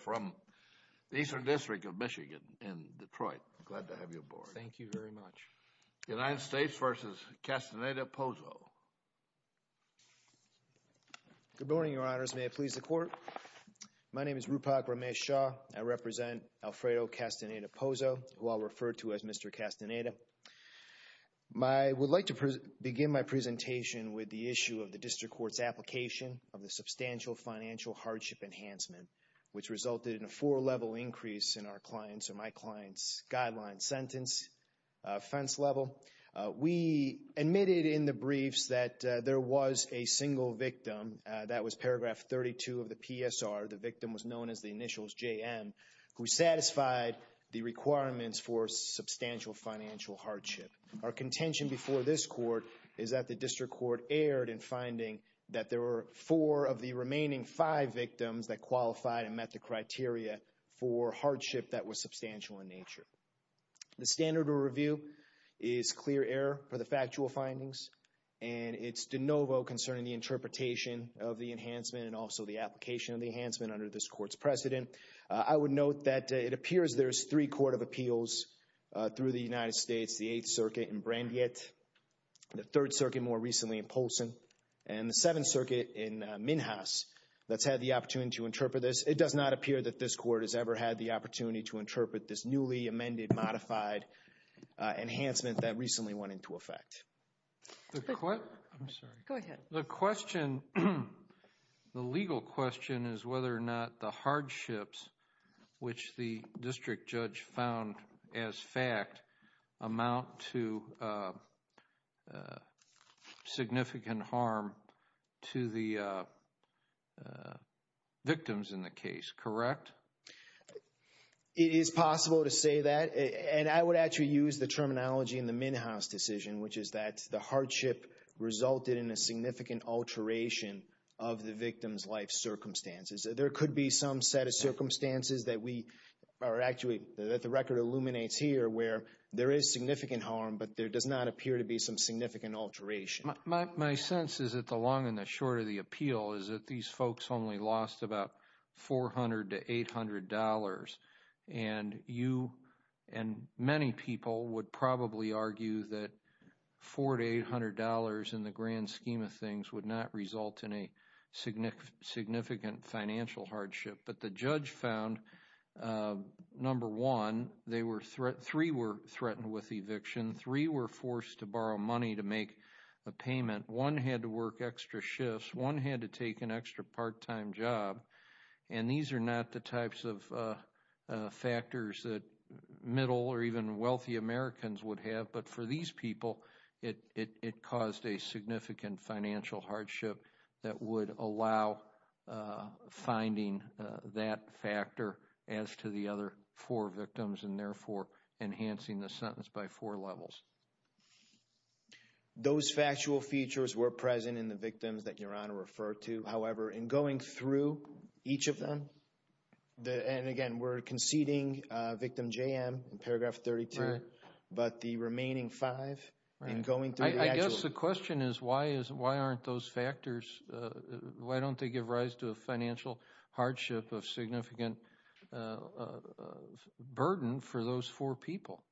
from the Eastern District of Michigan in Detroit. Glad to have you aboard. Thank you very much. United States v. Castaneda-Pozo. Good morning, Your Honors. May it please the Court? My name is Rupak Ramesh Shah. I represent Alfredo Castaneda-Pozo, who I'll refer to as Mr. Castaneda. I would like to begin my presentation with the issue of the District Court's application of the Substantial Financial Hardship Enhancement, which resulted in a four-level increase in our client's or my client's guideline sentence offense level. We admitted in the briefs that there was a single victim. That was paragraph 32 of the PSR. The victim was known as the initials JM, who satisfied the requirements for substantial financial hardship. Our contention before this Court is that the District Court erred in finding that there were four of the remaining five victims that qualified and met the criteria for hardship that was substantial in nature. The standard of review is clear error for the factual findings, and it's de novo concerning the interpretation of the enhancement and also the application of the enhancement under this Court's precedent. I would note that it appears there's three Court of Appeals through the United States, the Eighth Circuit in Brandeit, the Third Circuit more recently in Polson, and the Seventh Circuit in Minhas that's had the opportunity to interpret this. It does not appear that this Court has ever had the opportunity to interpret this newly amended, modified enhancement that recently went into effect. I'm sorry. Go ahead. The question, the legal question is whether or not the hardships, which the District Judge found as fact, amount to significant harm to the victims in the case, correct? It is possible to say that, and I would actually use the terminology in the Minhas decision, which is that the hardship resulted in a significant alteration of the victim's life circumstances. There could be some set of circumstances that we are actually, that the record illuminates here where there is significant harm, but there does not appear to be some significant alteration. My sense is that the long and the short of the appeal is that these folks only lost about $400 to $800, and you and many people would probably argue that $400 to $800 in the grand scheme of things would not result in a significant financial hardship. But the Judge found, number one, they were, three were threatened with eviction. Three were forced to borrow money to make a payment. One had to work extra shifts. One had to take an extra part-time job. And these are not the types of factors that middle or even wealthy Americans would have, but for these people, it caused a significant financial hardship that would allow finding that factor as to the other four victims and therefore enhancing the sentence by four levels. Those factual features were present in the victims that Your Honor referred to. However, in going through each of them, and again, we're conceding victim JM in paragraph 32, but the remaining five in going through the actual... I guess the question is why aren't those factors, why don't they give rise to a financial hardship of significant burden for those four people?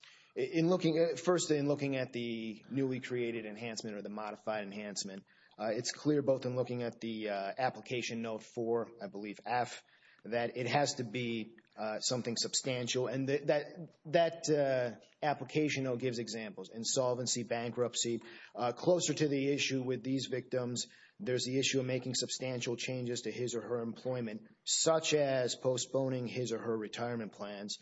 First, in looking at the newly created enhancement or the modified enhancement, it's clear both in looking at the application note for, I believe, F, that it has to be something substantial. And that application note gives examples, insolvency, bankruptcy. Closer to the issue with these victims, there's the issue of making substantial changes to his or her employment, such as postponing his or her retirement plans.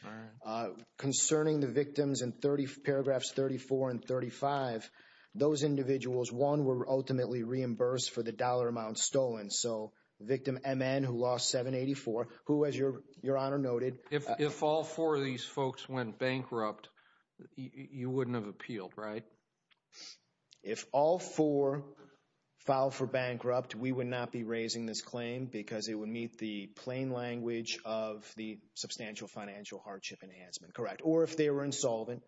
Concerning the victims in paragraphs 34 and 35, those individuals, one, were ultimately reimbursed for the dollar amount stolen. So, victim MN, who lost $7.84, who, as Your Honor noted... If all four of these folks went bankrupt, you wouldn't have appealed, right? If all four filed for bankrupt, we would not be raising this claim because it would meet the plain language of the substantial financial hardship enhancement, correct. Or if they were insolvent,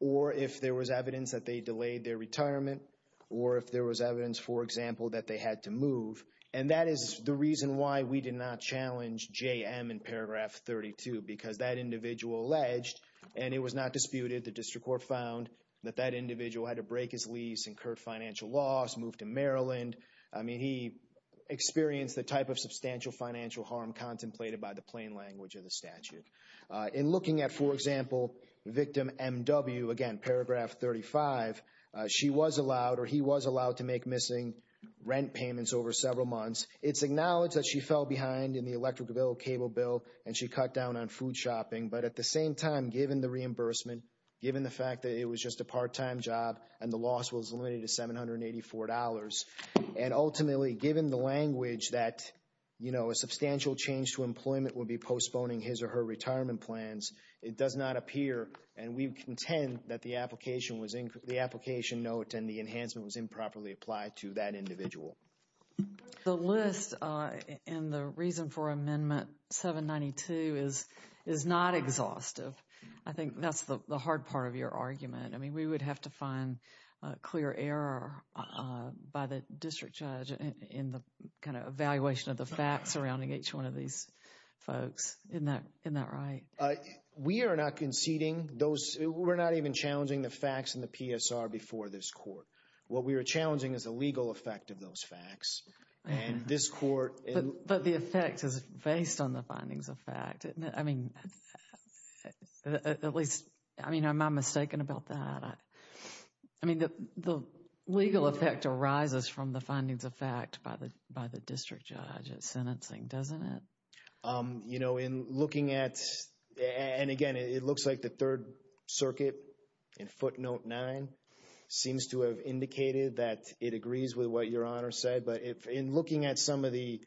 or if there was evidence that they delayed their retirement, or if there was evidence, for example, that they had to move. And that is the reason why we did not challenge JM in paragraph 32, because that individual alleged, and it was not disputed, the district court found, that that individual had to break his lease, incurred financial loss, moved to Maryland. I mean, he experienced the type of substantial financial harm contemplated by the plain language of the statute. In looking at, for example, victim MW, again, paragraph 35, she was allowed, or he was allowed to make missing rent payments over several months. It's acknowledged that she fell behind in the electric bill, cable bill, and she cut down on food shopping. But at the same time, given the reimbursement, given the fact that it was just a part-time job and the loss was limited to $784, and ultimately, given the language that, you know, a substantial change to employment would be postponing his or her retirement plans, it does not appear, and we contend that the application note and the enhancement was improperly applied to that individual. The list and the reason for Amendment 792 is not exhaustive. I think that's the hard part of your argument. I mean, we would have to find clear error by the district judge in the kind of evaluation of the facts surrounding each one of these folks. Isn't that right? We are not conceding those. We're not even challenging the facts in the PSR before this court. What we are challenging is the legal effect of those facts, and this court. But the effect is based on the findings of fact. I mean, at least, I mean, am I mistaken about that? I mean, the legal effect arises from the findings of fact by the district judge at sentencing, doesn't it? You know, in looking at, and again, it looks like the Third Circuit in Footnote 9 seems to have indicated that it agrees with what Your Honor said, but in looking at some of the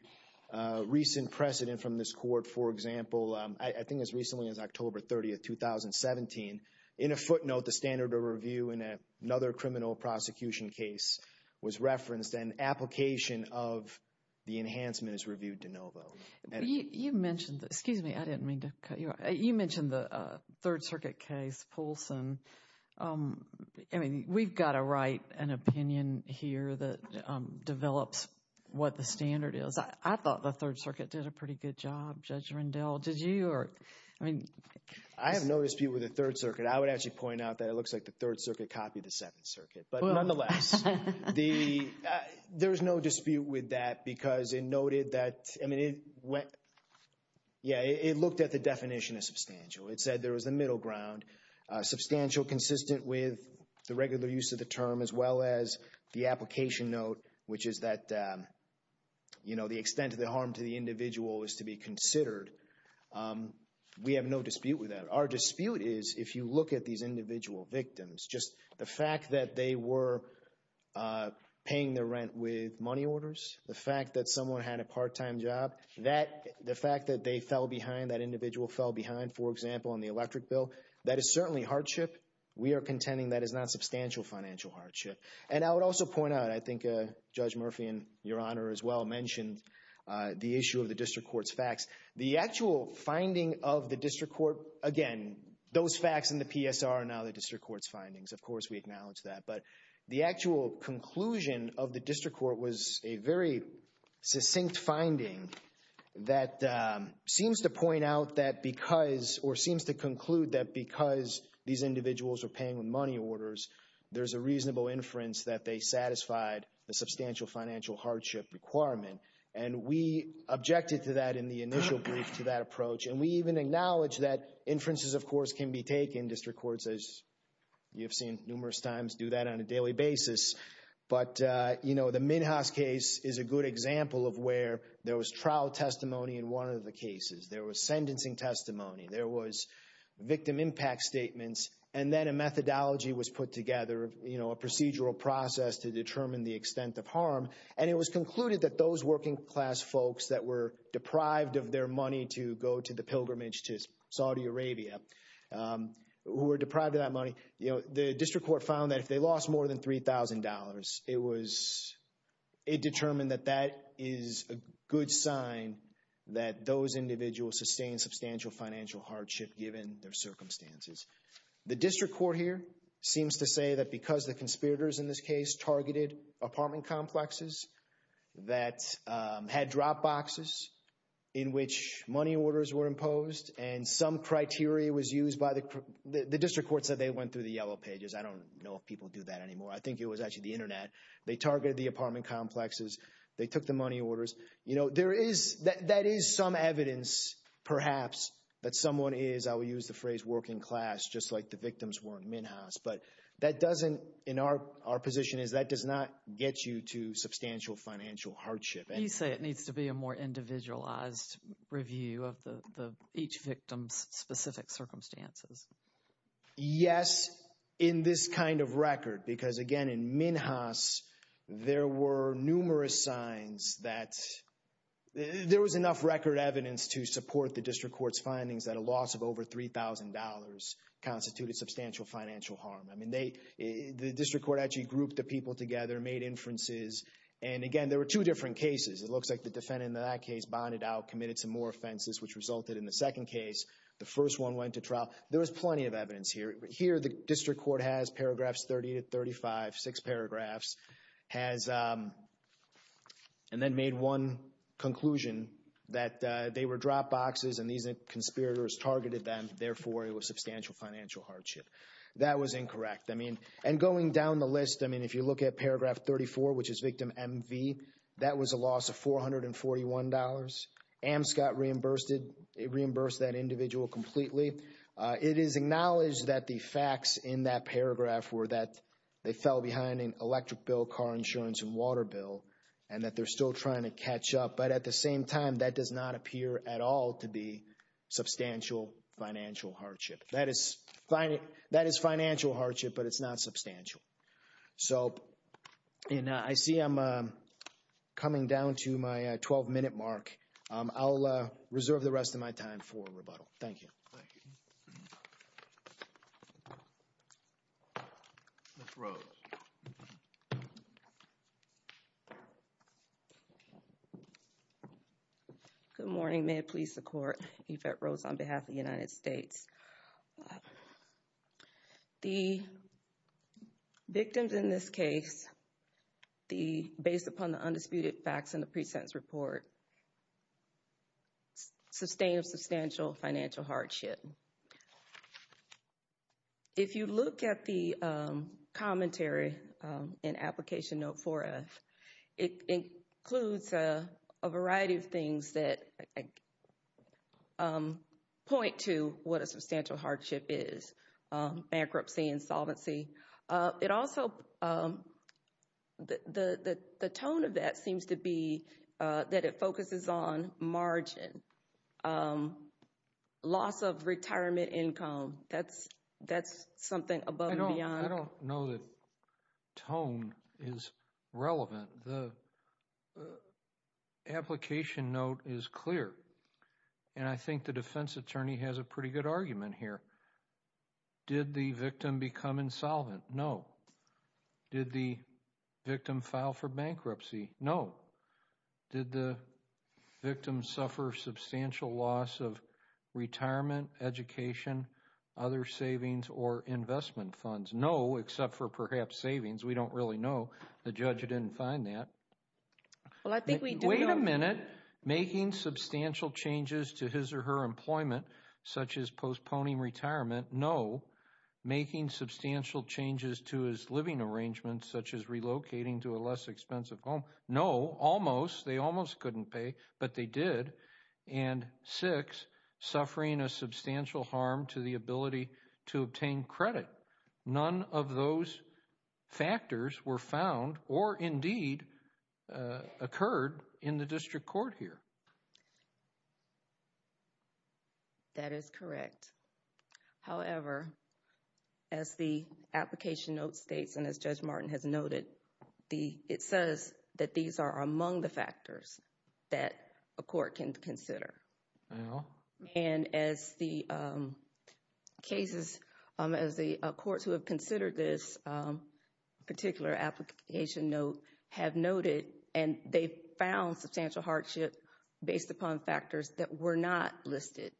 recent precedent from this court, for example, I think as recently as October 30, 2017, in a footnote, the standard of review in another criminal prosecution case was referenced, and application of the enhancement is reviewed de novo. You mentioned, excuse me, I didn't mean to cut you off. You mentioned the Third Circuit case, Poulsen. I mean, we've got to write an opinion here that develops what the standard is. I thought the Third Circuit did a pretty good job, Judge Rendell. Did you? I have no dispute with the Third Circuit. I would actually point out that it looks like the Third Circuit copied the Second Circuit. But nonetheless, there is no dispute with that because it noted that, I mean, it went, yeah, it looked at the definition of substantial. It said there was a middle ground, substantial consistent with the regular use of the term as well as the application note, which is that, you know, the extent of the harm to the individual is to be considered. We have no dispute with that. Our dispute is if you look at these individual victims, just the fact that they were paying their rent with money orders, the fact that someone had a part-time job, the fact that they fell behind, that individual fell behind, for example, on the electric bill, that is certainly hardship. We are contending that is not substantial financial hardship. And I would also point out, I think Judge Murphy, in your honor as well, mentioned the issue of the district court's facts. The actual finding of the district court, again, those facts in the PSR are now the district court's findings. Of course, we acknowledge that. But the actual conclusion of the district court was a very succinct finding that seems to point out that because or seems to conclude that because these individuals were paying with money orders, there's a reasonable inference that they satisfied the substantial financial hardship requirement. And we objected to that in the initial brief, to that approach. And we even acknowledge that inferences, of course, can be taken. District courts, as you've seen numerous times, do that on a daily basis. But, you know, the Minhas case is a good example of where there was trial testimony in one of the cases. There was sentencing testimony. There was victim impact statements. And then a methodology was put together, you know, a procedural process to determine the extent of harm. And it was concluded that those working class folks that were deprived of their money to go to the pilgrimage to Saudi Arabia, who were deprived of that money, you know, the district court found that if they lost more than $3,000, it was determined that that is a good sign that those individuals sustained substantial financial hardship given their circumstances. The district court here seems to say that because the conspirators in this case targeted apartment complexes that had drop boxes in which money orders were imposed and some criteria was used by the – the district court said they went through the yellow pages. I don't know if people do that anymore. I think it was actually the Internet. They targeted the apartment complexes. They took the money orders. You know, there is – that is some evidence, perhaps, that someone is, I will use the phrase, working class, just like the victims were in Minhas. But that doesn't – in our position is that does not get you to substantial financial hardship. You say it needs to be a more individualized review of each victim's specific circumstances. Yes, in this kind of record, because, again, in Minhas, there were numerous signs that – there was enough record evidence to support the district court's findings that a loss of over $3,000 constituted substantial financial harm. I mean, they – the district court actually grouped the people together, made inferences, and, again, there were two different cases. It looks like the defendant in that case bonded out, committed some more offenses, which resulted in the second case. The first one went to trial. There was plenty of evidence here. Here the district court has paragraphs 30 to 35, six paragraphs, has – therefore, it was substantial financial hardship. That was incorrect. I mean – and going down the list, I mean, if you look at paragraph 34, which is victim MV, that was a loss of $441. AMSCOT reimbursed it. It reimbursed that individual completely. It is acknowledged that the facts in that paragraph were that they fell behind in electric bill, car insurance, and water bill, and that they're still trying to catch up. But at the same time, that does not appear at all to be substantial financial hardship. That is financial hardship, but it's not substantial. So – and I see I'm coming down to my 12-minute mark. I'll reserve the rest of my time for rebuttal. Thank you. Ms. Rose. Good morning. May it please the Court. Yvette Rose on behalf of the United States. The victims in this case, the – based upon the undisputed facts in the pre-sentence report, sustained substantial financial hardship. If you look at the commentary in Application Note 4F, it includes a variety of things that point to what a substantial hardship is, bankruptcy, insolvency. It also – the tone of that seems to be that it focuses on margin, loss of retirement income. That's something above and beyond. I don't know that tone is relevant. The application note is clear, and I think the defense attorney has a pretty good argument here. Did the victim become insolvent? No. Did the victim file for bankruptcy? No. Did the victim suffer substantial loss of retirement, education, other savings, or investment funds? No, except for perhaps savings. We don't really know. The judge didn't find that. Wait a minute. Making substantial changes to his or her employment, such as postponing retirement. No. Making substantial changes to his living arrangements, such as relocating to a less expensive home. No. Almost. They almost couldn't pay, but they did. And six, suffering a substantial harm to the ability to obtain credit. None of those factors were found or indeed occurred in the district court here. That is correct. However, as the application note states and as Judge Martin has noted, it says that these are among the factors that a court can consider. And as the cases, as the courts who have considered this particular application note have noted, and they found substantial hardship based upon factors that were not listed.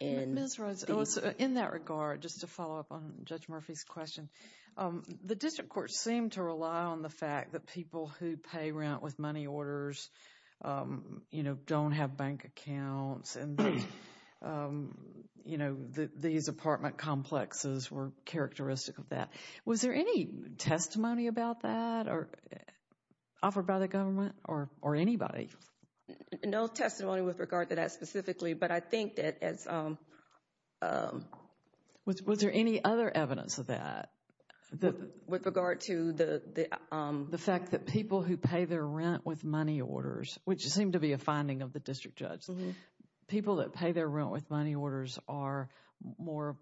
Ms. Rhodes, in that regard, just to follow up on Judge Murphy's question, the district court seemed to rely on the fact that people who pay rent with money orders, you know, don't have bank accounts. And, you know, these apartment complexes were characteristic of that. Was there any testimony about that offered by the government or anybody? No testimony with regard to that specifically. But I think that as... Was there any other evidence of that? With regard to the... The fact that people who pay their rent with money orders, which seemed to be a finding of the district judge, people that pay their rent with money orders are more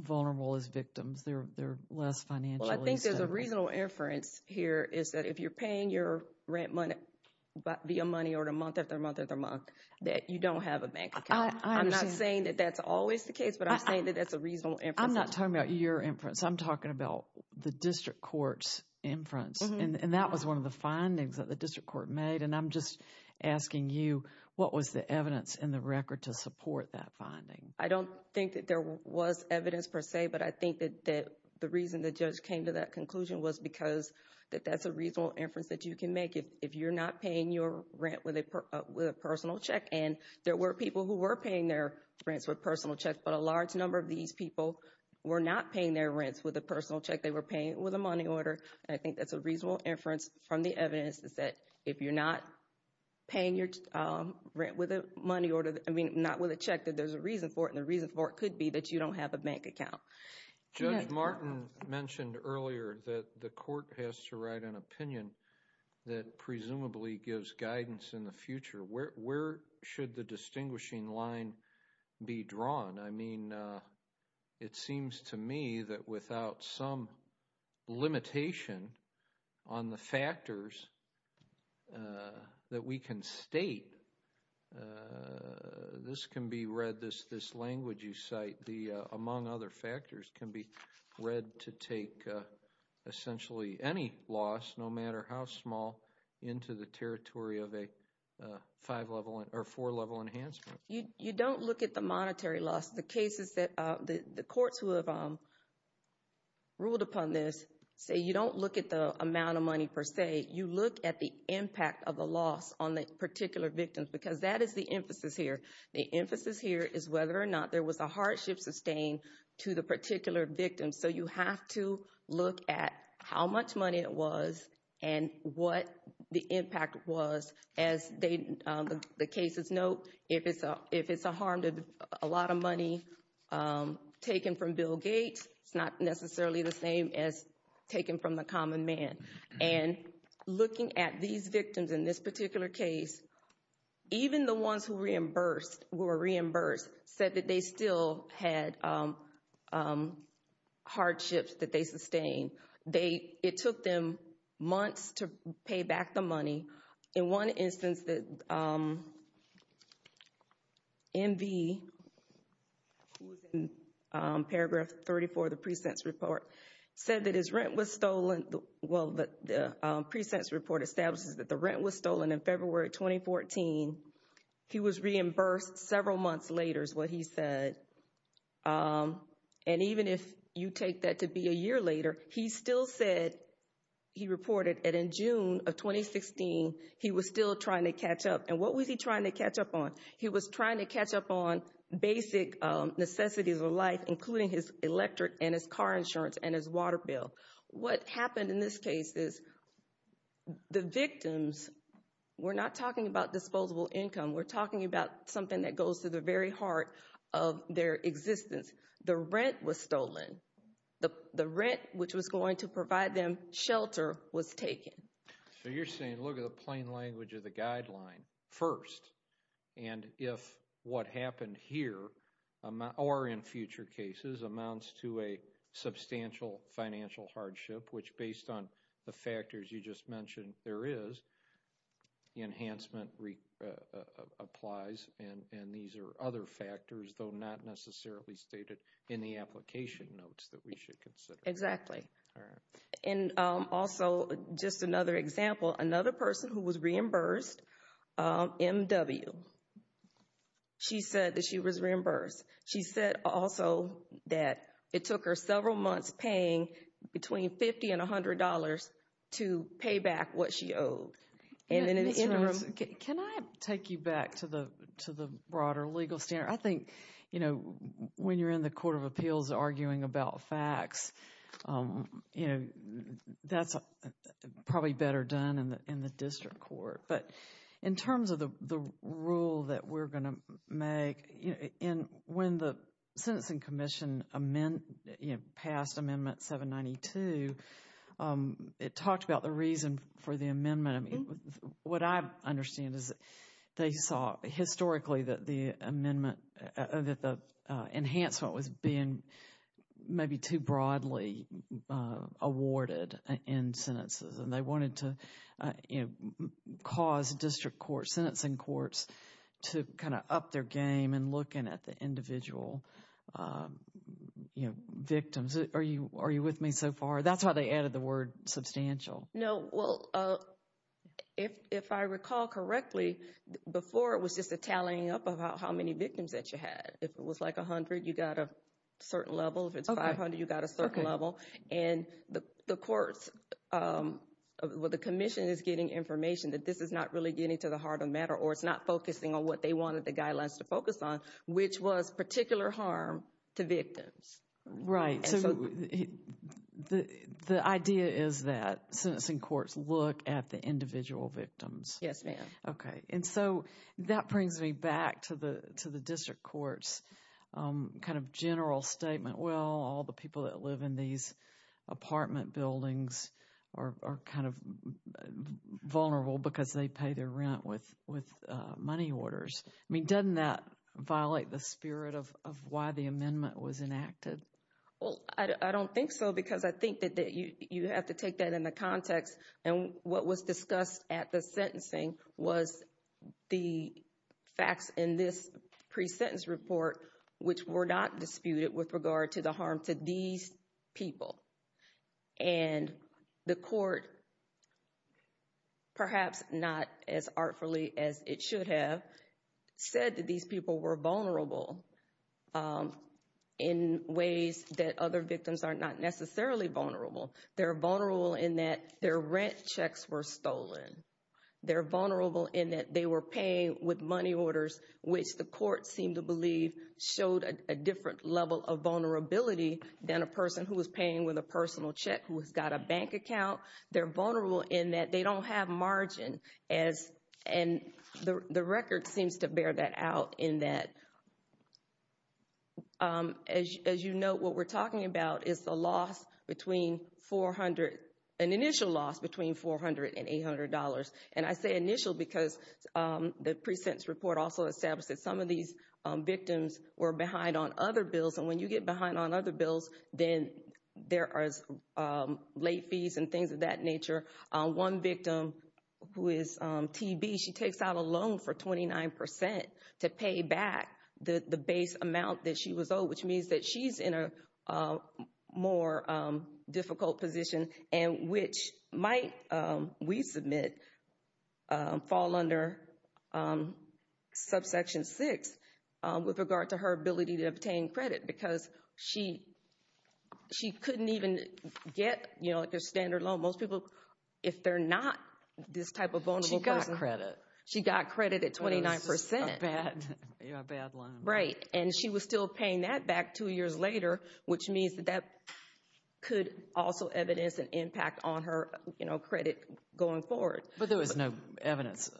vulnerable as victims. They're less financially... Well, I think there's a reasonable inference here is that if you're paying your rent money via money order month after month after month, that you don't have a bank account. I'm not saying that that's always the case, but I'm saying that that's a reasonable inference. I'm not talking about your inference. I'm talking about the district court's inference. And that was one of the findings that the district court made. And I'm just asking you, what was the evidence in the record to support that finding? I don't think that there was evidence per se, but I think that the reason the judge came to that conclusion was because that that's a reasonable inference that you can make. If you're not paying your rent with a personal check, and there were people who were paying their rents with personal checks, but a large number of these people were not paying their rents with a personal check. They were paying with a money order. And I think that's a reasonable inference from the evidence is that if you're not paying your rent with a money order, I mean, not with a check, that there's a reason for it. And the reason for it could be that you don't have a bank account. Judge Martin mentioned earlier that the court has to write an opinion that presumably gives guidance in the future. Where should the distinguishing line be drawn? I mean, it seems to me that without some limitation on the factors that we can state, this can be read, this language you cite, among other factors, can be read to take essentially any loss, no matter how small, into the territory of a five-level or four-level enhancement. You don't look at the monetary loss. The cases that the courts who have ruled upon this say you don't look at the amount of money per se. You look at the impact of a loss on the particular victim because that is the emphasis here. The emphasis here is whether or not there was a hardship sustained to the particular victim. So you have to look at how much money it was and what the impact was. As the cases note, if it's a harm to a lot of money taken from Bill Gates, it's not necessarily the same as taken from the common man. And looking at these victims in this particular case, even the ones who were reimbursed said that they still had hardships that they sustained. It took them months to pay back the money. In one instance, MV, who was in Paragraph 34 of the Precinct's report, said that his rent was stolen. Well, the precinct's report establishes that the rent was stolen in February 2014. He was reimbursed several months later is what he said. And even if you take that to be a year later, he still said, he reported that in June of 2016, he was still trying to catch up. And what was he trying to catch up on? He was trying to catch up on basic necessities of life, including his electric and his car insurance and his water bill. What happened in this case is the victims were not talking about disposable income. We're talking about something that goes to the very heart of their existence. The rent was stolen. The rent, which was going to provide them shelter, was taken. So you're saying, look at the plain language of the guideline first, and if what happened here or in future cases amounts to a substantial financial hardship, which based on the factors you just mentioned there is, enhancement applies, and these are other factors, though not necessarily stated in the application notes that we should consider. Exactly. And also, just another example, another person who was reimbursed, M.W., she said that she was reimbursed. She said also that it took her several months paying between $50 and $100 to pay back what she owed. Can I take you back to the broader legal standard? I think, you know, when you're in the Court of Appeals arguing about facts, you know, that's probably better done in the district court. But in terms of the rule that we're going to make, when the Sentencing Commission passed Amendment 792, it talked about the reason for the amendment. I mean, what I understand is they saw historically that the amendment, that the enhancement was being maybe too broadly awarded in sentences, and they wanted to, you know, cause district courts, sentencing courts to kind of up their game in looking at the individual, you know, victims. Are you with me so far? That's why they added the word substantial. No, well, if I recall correctly, before it was just a tallying up of how many victims that you had. If it was like 100, you got a certain level. If it's 500, you got a certain level. And the courts, well, the commission is getting information that this is not really getting to the heart of the matter or it's not focusing on what they wanted the guidelines to focus on, which was particular harm to victims. Right. So the idea is that sentencing courts look at the individual victims. Yes, ma'am. Okay. And so that brings me back to the district courts kind of general statement. Well, all the people that live in these apartment buildings are kind of vulnerable because they pay their rent with money orders. I mean, doesn't that violate the spirit of why the amendment was enacted? Well, I don't think so because I think that you have to take that in the context. And what was discussed at the sentencing was the facts in this pre-sentence report, which were not disputed with regard to the harm to these people. And the court, perhaps not as artfully as it should have, said that these people were vulnerable in ways that other victims are not necessarily vulnerable. They're vulnerable in that their rent checks were stolen. They're vulnerable in that they were paying with money orders, which the court seemed to believe showed a different level of vulnerability than a person who was paying with a personal check who has got a bank account. They're vulnerable in that they don't have margin. And the record seems to bear that out in that, as you note, what we're talking about is an initial loss between $400 and $800. And I say initial because the pre-sentence report also established that some of these victims were behind on other bills. And when you get behind on other bills, then there are late fees and things of that nature. One victim who is TB, she takes out a loan for 29 percent to pay back the base amount that she was owed, which means that she's in a more difficult position and which might, we submit, fall under subsection six with regard to her ability to obtain credit because she couldn't even get a standard loan. Most people, if they're not this type of vulnerable person. She got credit. She got credit at 29 percent. It was a bad loan. Right. And she was still paying that back two years later, which means that that could also evidence an impact on her credit going forward. But there was no evidence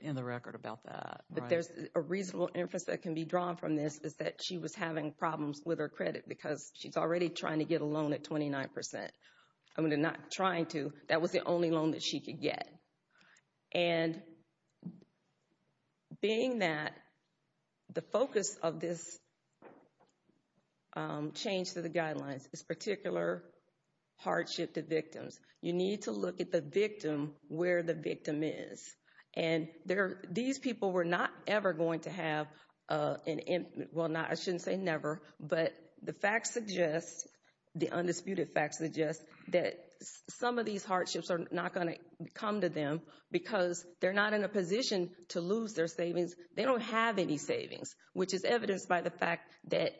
in the record about that. But there's a reasonable inference that can be drawn from this is that she was having problems with her credit because she's already trying to get a loan at 29 percent. I mean, not trying to. That was the only loan that she could get. And being that the focus of this change to the guidelines is particular hardship to victims, you need to look at the victim where the victim is. And these people were not ever going to have an impact. Well, I shouldn't say never, but the facts suggest, the undisputed facts suggest, that some of these hardships are not going to come to them because they're not in a position to lose their savings. They don't have any savings, which is evidenced by the fact that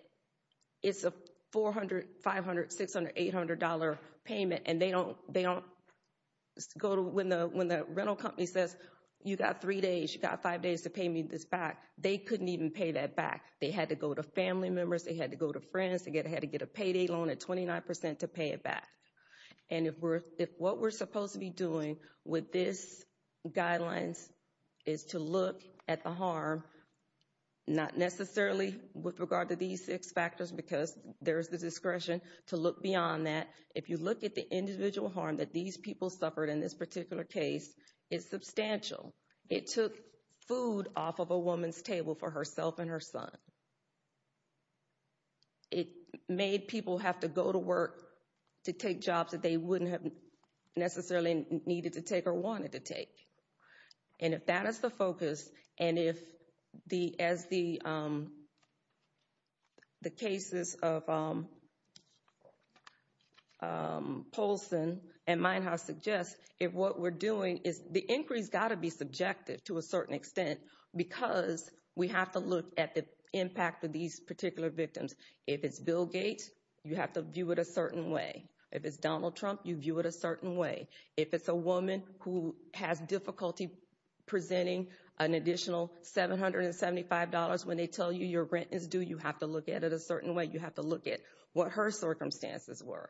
it's a $400, $500, $600, $800 payment, and they don't go to when the rental company says, you got three days, you got five days to pay me this back. They couldn't even pay that back. They had to go to family members. They had to go to friends. They had to get a payday loan at 29 percent to pay it back. And if what we're supposed to be doing with this guidelines is to look at the harm, not necessarily with regard to these six factors because there's the discretion to look beyond that. If you look at the individual harm that these people suffered in this particular case, it's substantial. It took food off of a woman's table for herself and her son. It made people have to go to work to take jobs that they wouldn't have necessarily needed to take or wanted to take. And if that is the focus, and if as the cases of Polson and Meinhaus suggest, if what we're doing is the inquiry's got to be subjective to a certain extent because we have to look at the impact of these particular victims. If it's Bill Gates, you have to view it a certain way. If it's Donald Trump, you view it a certain way. If it's a woman who has difficulty presenting an additional $775 when they tell you your rent is due, you have to look at it a certain way. You have to look at what her circumstances were.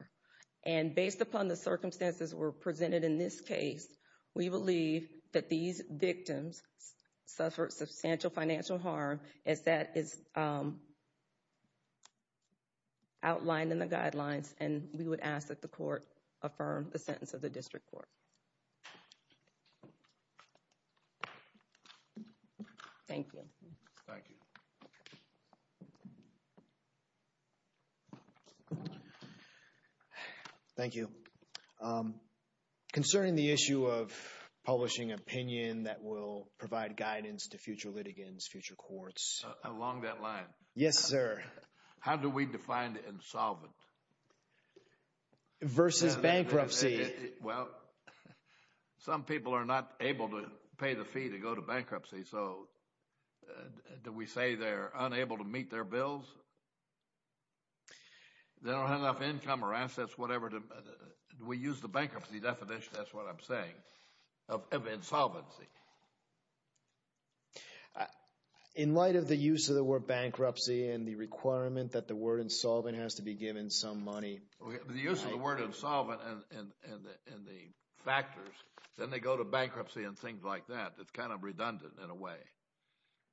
And based upon the circumstances that were presented in this case, we believe that these victims suffered substantial financial harm as that is outlined in the guidelines. And we would ask that the court affirm the sentence of the district court. Thank you. Thank you. Thank you. Concerning the issue of publishing opinion that will provide guidance to future litigants, future courts. Along that line. Yes, sir. How do we define insolvent? Versus bankruptcy. Well, some people are not able to pay the fee to go to bankruptcy. So do we say they're unable to meet their bills? They don't have enough income or assets, whatever. We use the bankruptcy definition, that's what I'm saying, of insolvency. In light of the use of the word bankruptcy and the requirement that the word insolvent has to be given some money. The use of the word insolvent and the factors, then they go to bankruptcy and things like that. It's kind of redundant in a way.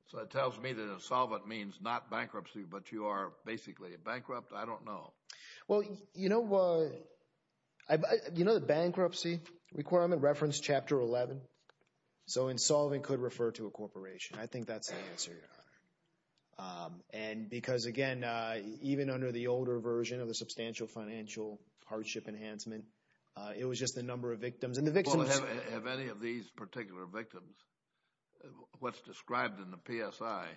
So it tells me that insolvent means not bankruptcy, but you are basically bankrupt? I don't know. Well, you know the bankruptcy requirement reference chapter 11? So insolvent could refer to a corporation. I think that's the answer, Your Honor. And because, again, even under the older version of the substantial financial hardship enhancement, it was just the number of victims. Well, have any of these particular victims, what's described in the PSI,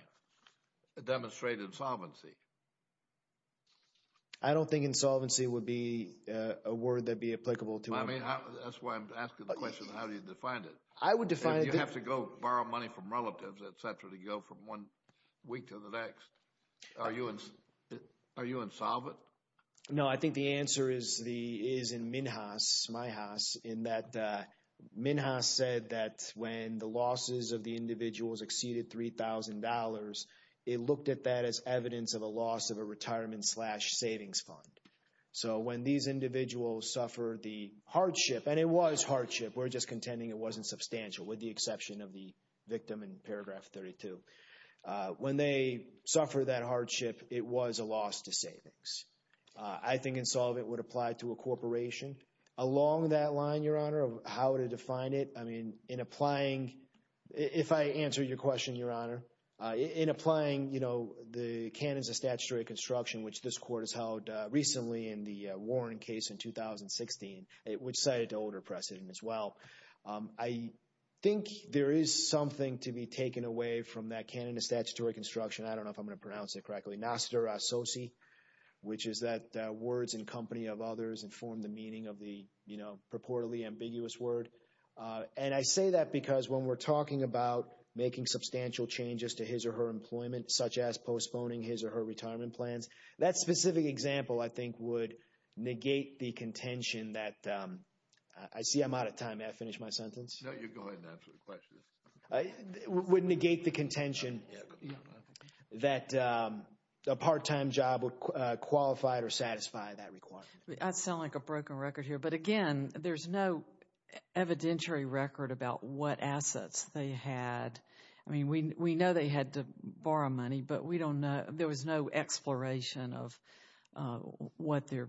demonstrated insolvency? I don't think insolvency would be a word that would be applicable to me. That's why I'm asking the question, how do you define it? You have to go borrow money from relatives, et cetera, to go from one week to the next. Are you insolvent? No, I think the answer is in Minhas, my house, in that Minhas said that when the losses of the individuals exceeded $3,000, it looked at that as evidence of a loss of a retirement slash savings fund. So when these individuals suffer the hardship, and it was hardship. We're just contending it wasn't substantial with the exception of the victim in paragraph 32. When they suffer that hardship, it was a loss to savings. I think insolvent would apply to a corporation. Along that line, Your Honor, of how to define it, I mean, in applying, if I answer your question, Your Honor, in applying, you know, the Canons of Statutory Construction, which this court has held recently in the Warren case in 2016, which cited an older precedent as well. I think there is something to be taken away from that Canon of Statutory Construction. I don't know if I'm going to pronounce it correctly. Nostra a soci, which is that words in company of others inform the meaning of the purportedly ambiguous word. And I say that because when we're talking about making substantial changes to his or her employment, such as postponing his or her retirement plans, that specific example, I think, would negate the contention that, I see I'm out of time. May I finish my sentence? No, you go ahead and answer the question. It would negate the contention that a part-time job would qualify or satisfy that requirement. I sound like a broken record here. But, again, there's no evidentiary record about what assets they had. I mean, we know they had to borrow money, but we don't know. There was no exploration of what their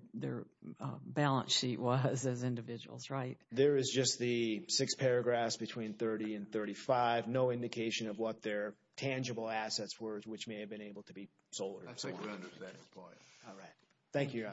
balance sheet was as individuals, right? There is just the six paragraphs between 30 and 35, no indication of what their tangible assets were, which may have been able to be sold or sold. I second that point. All right. Thank you, Your Honors.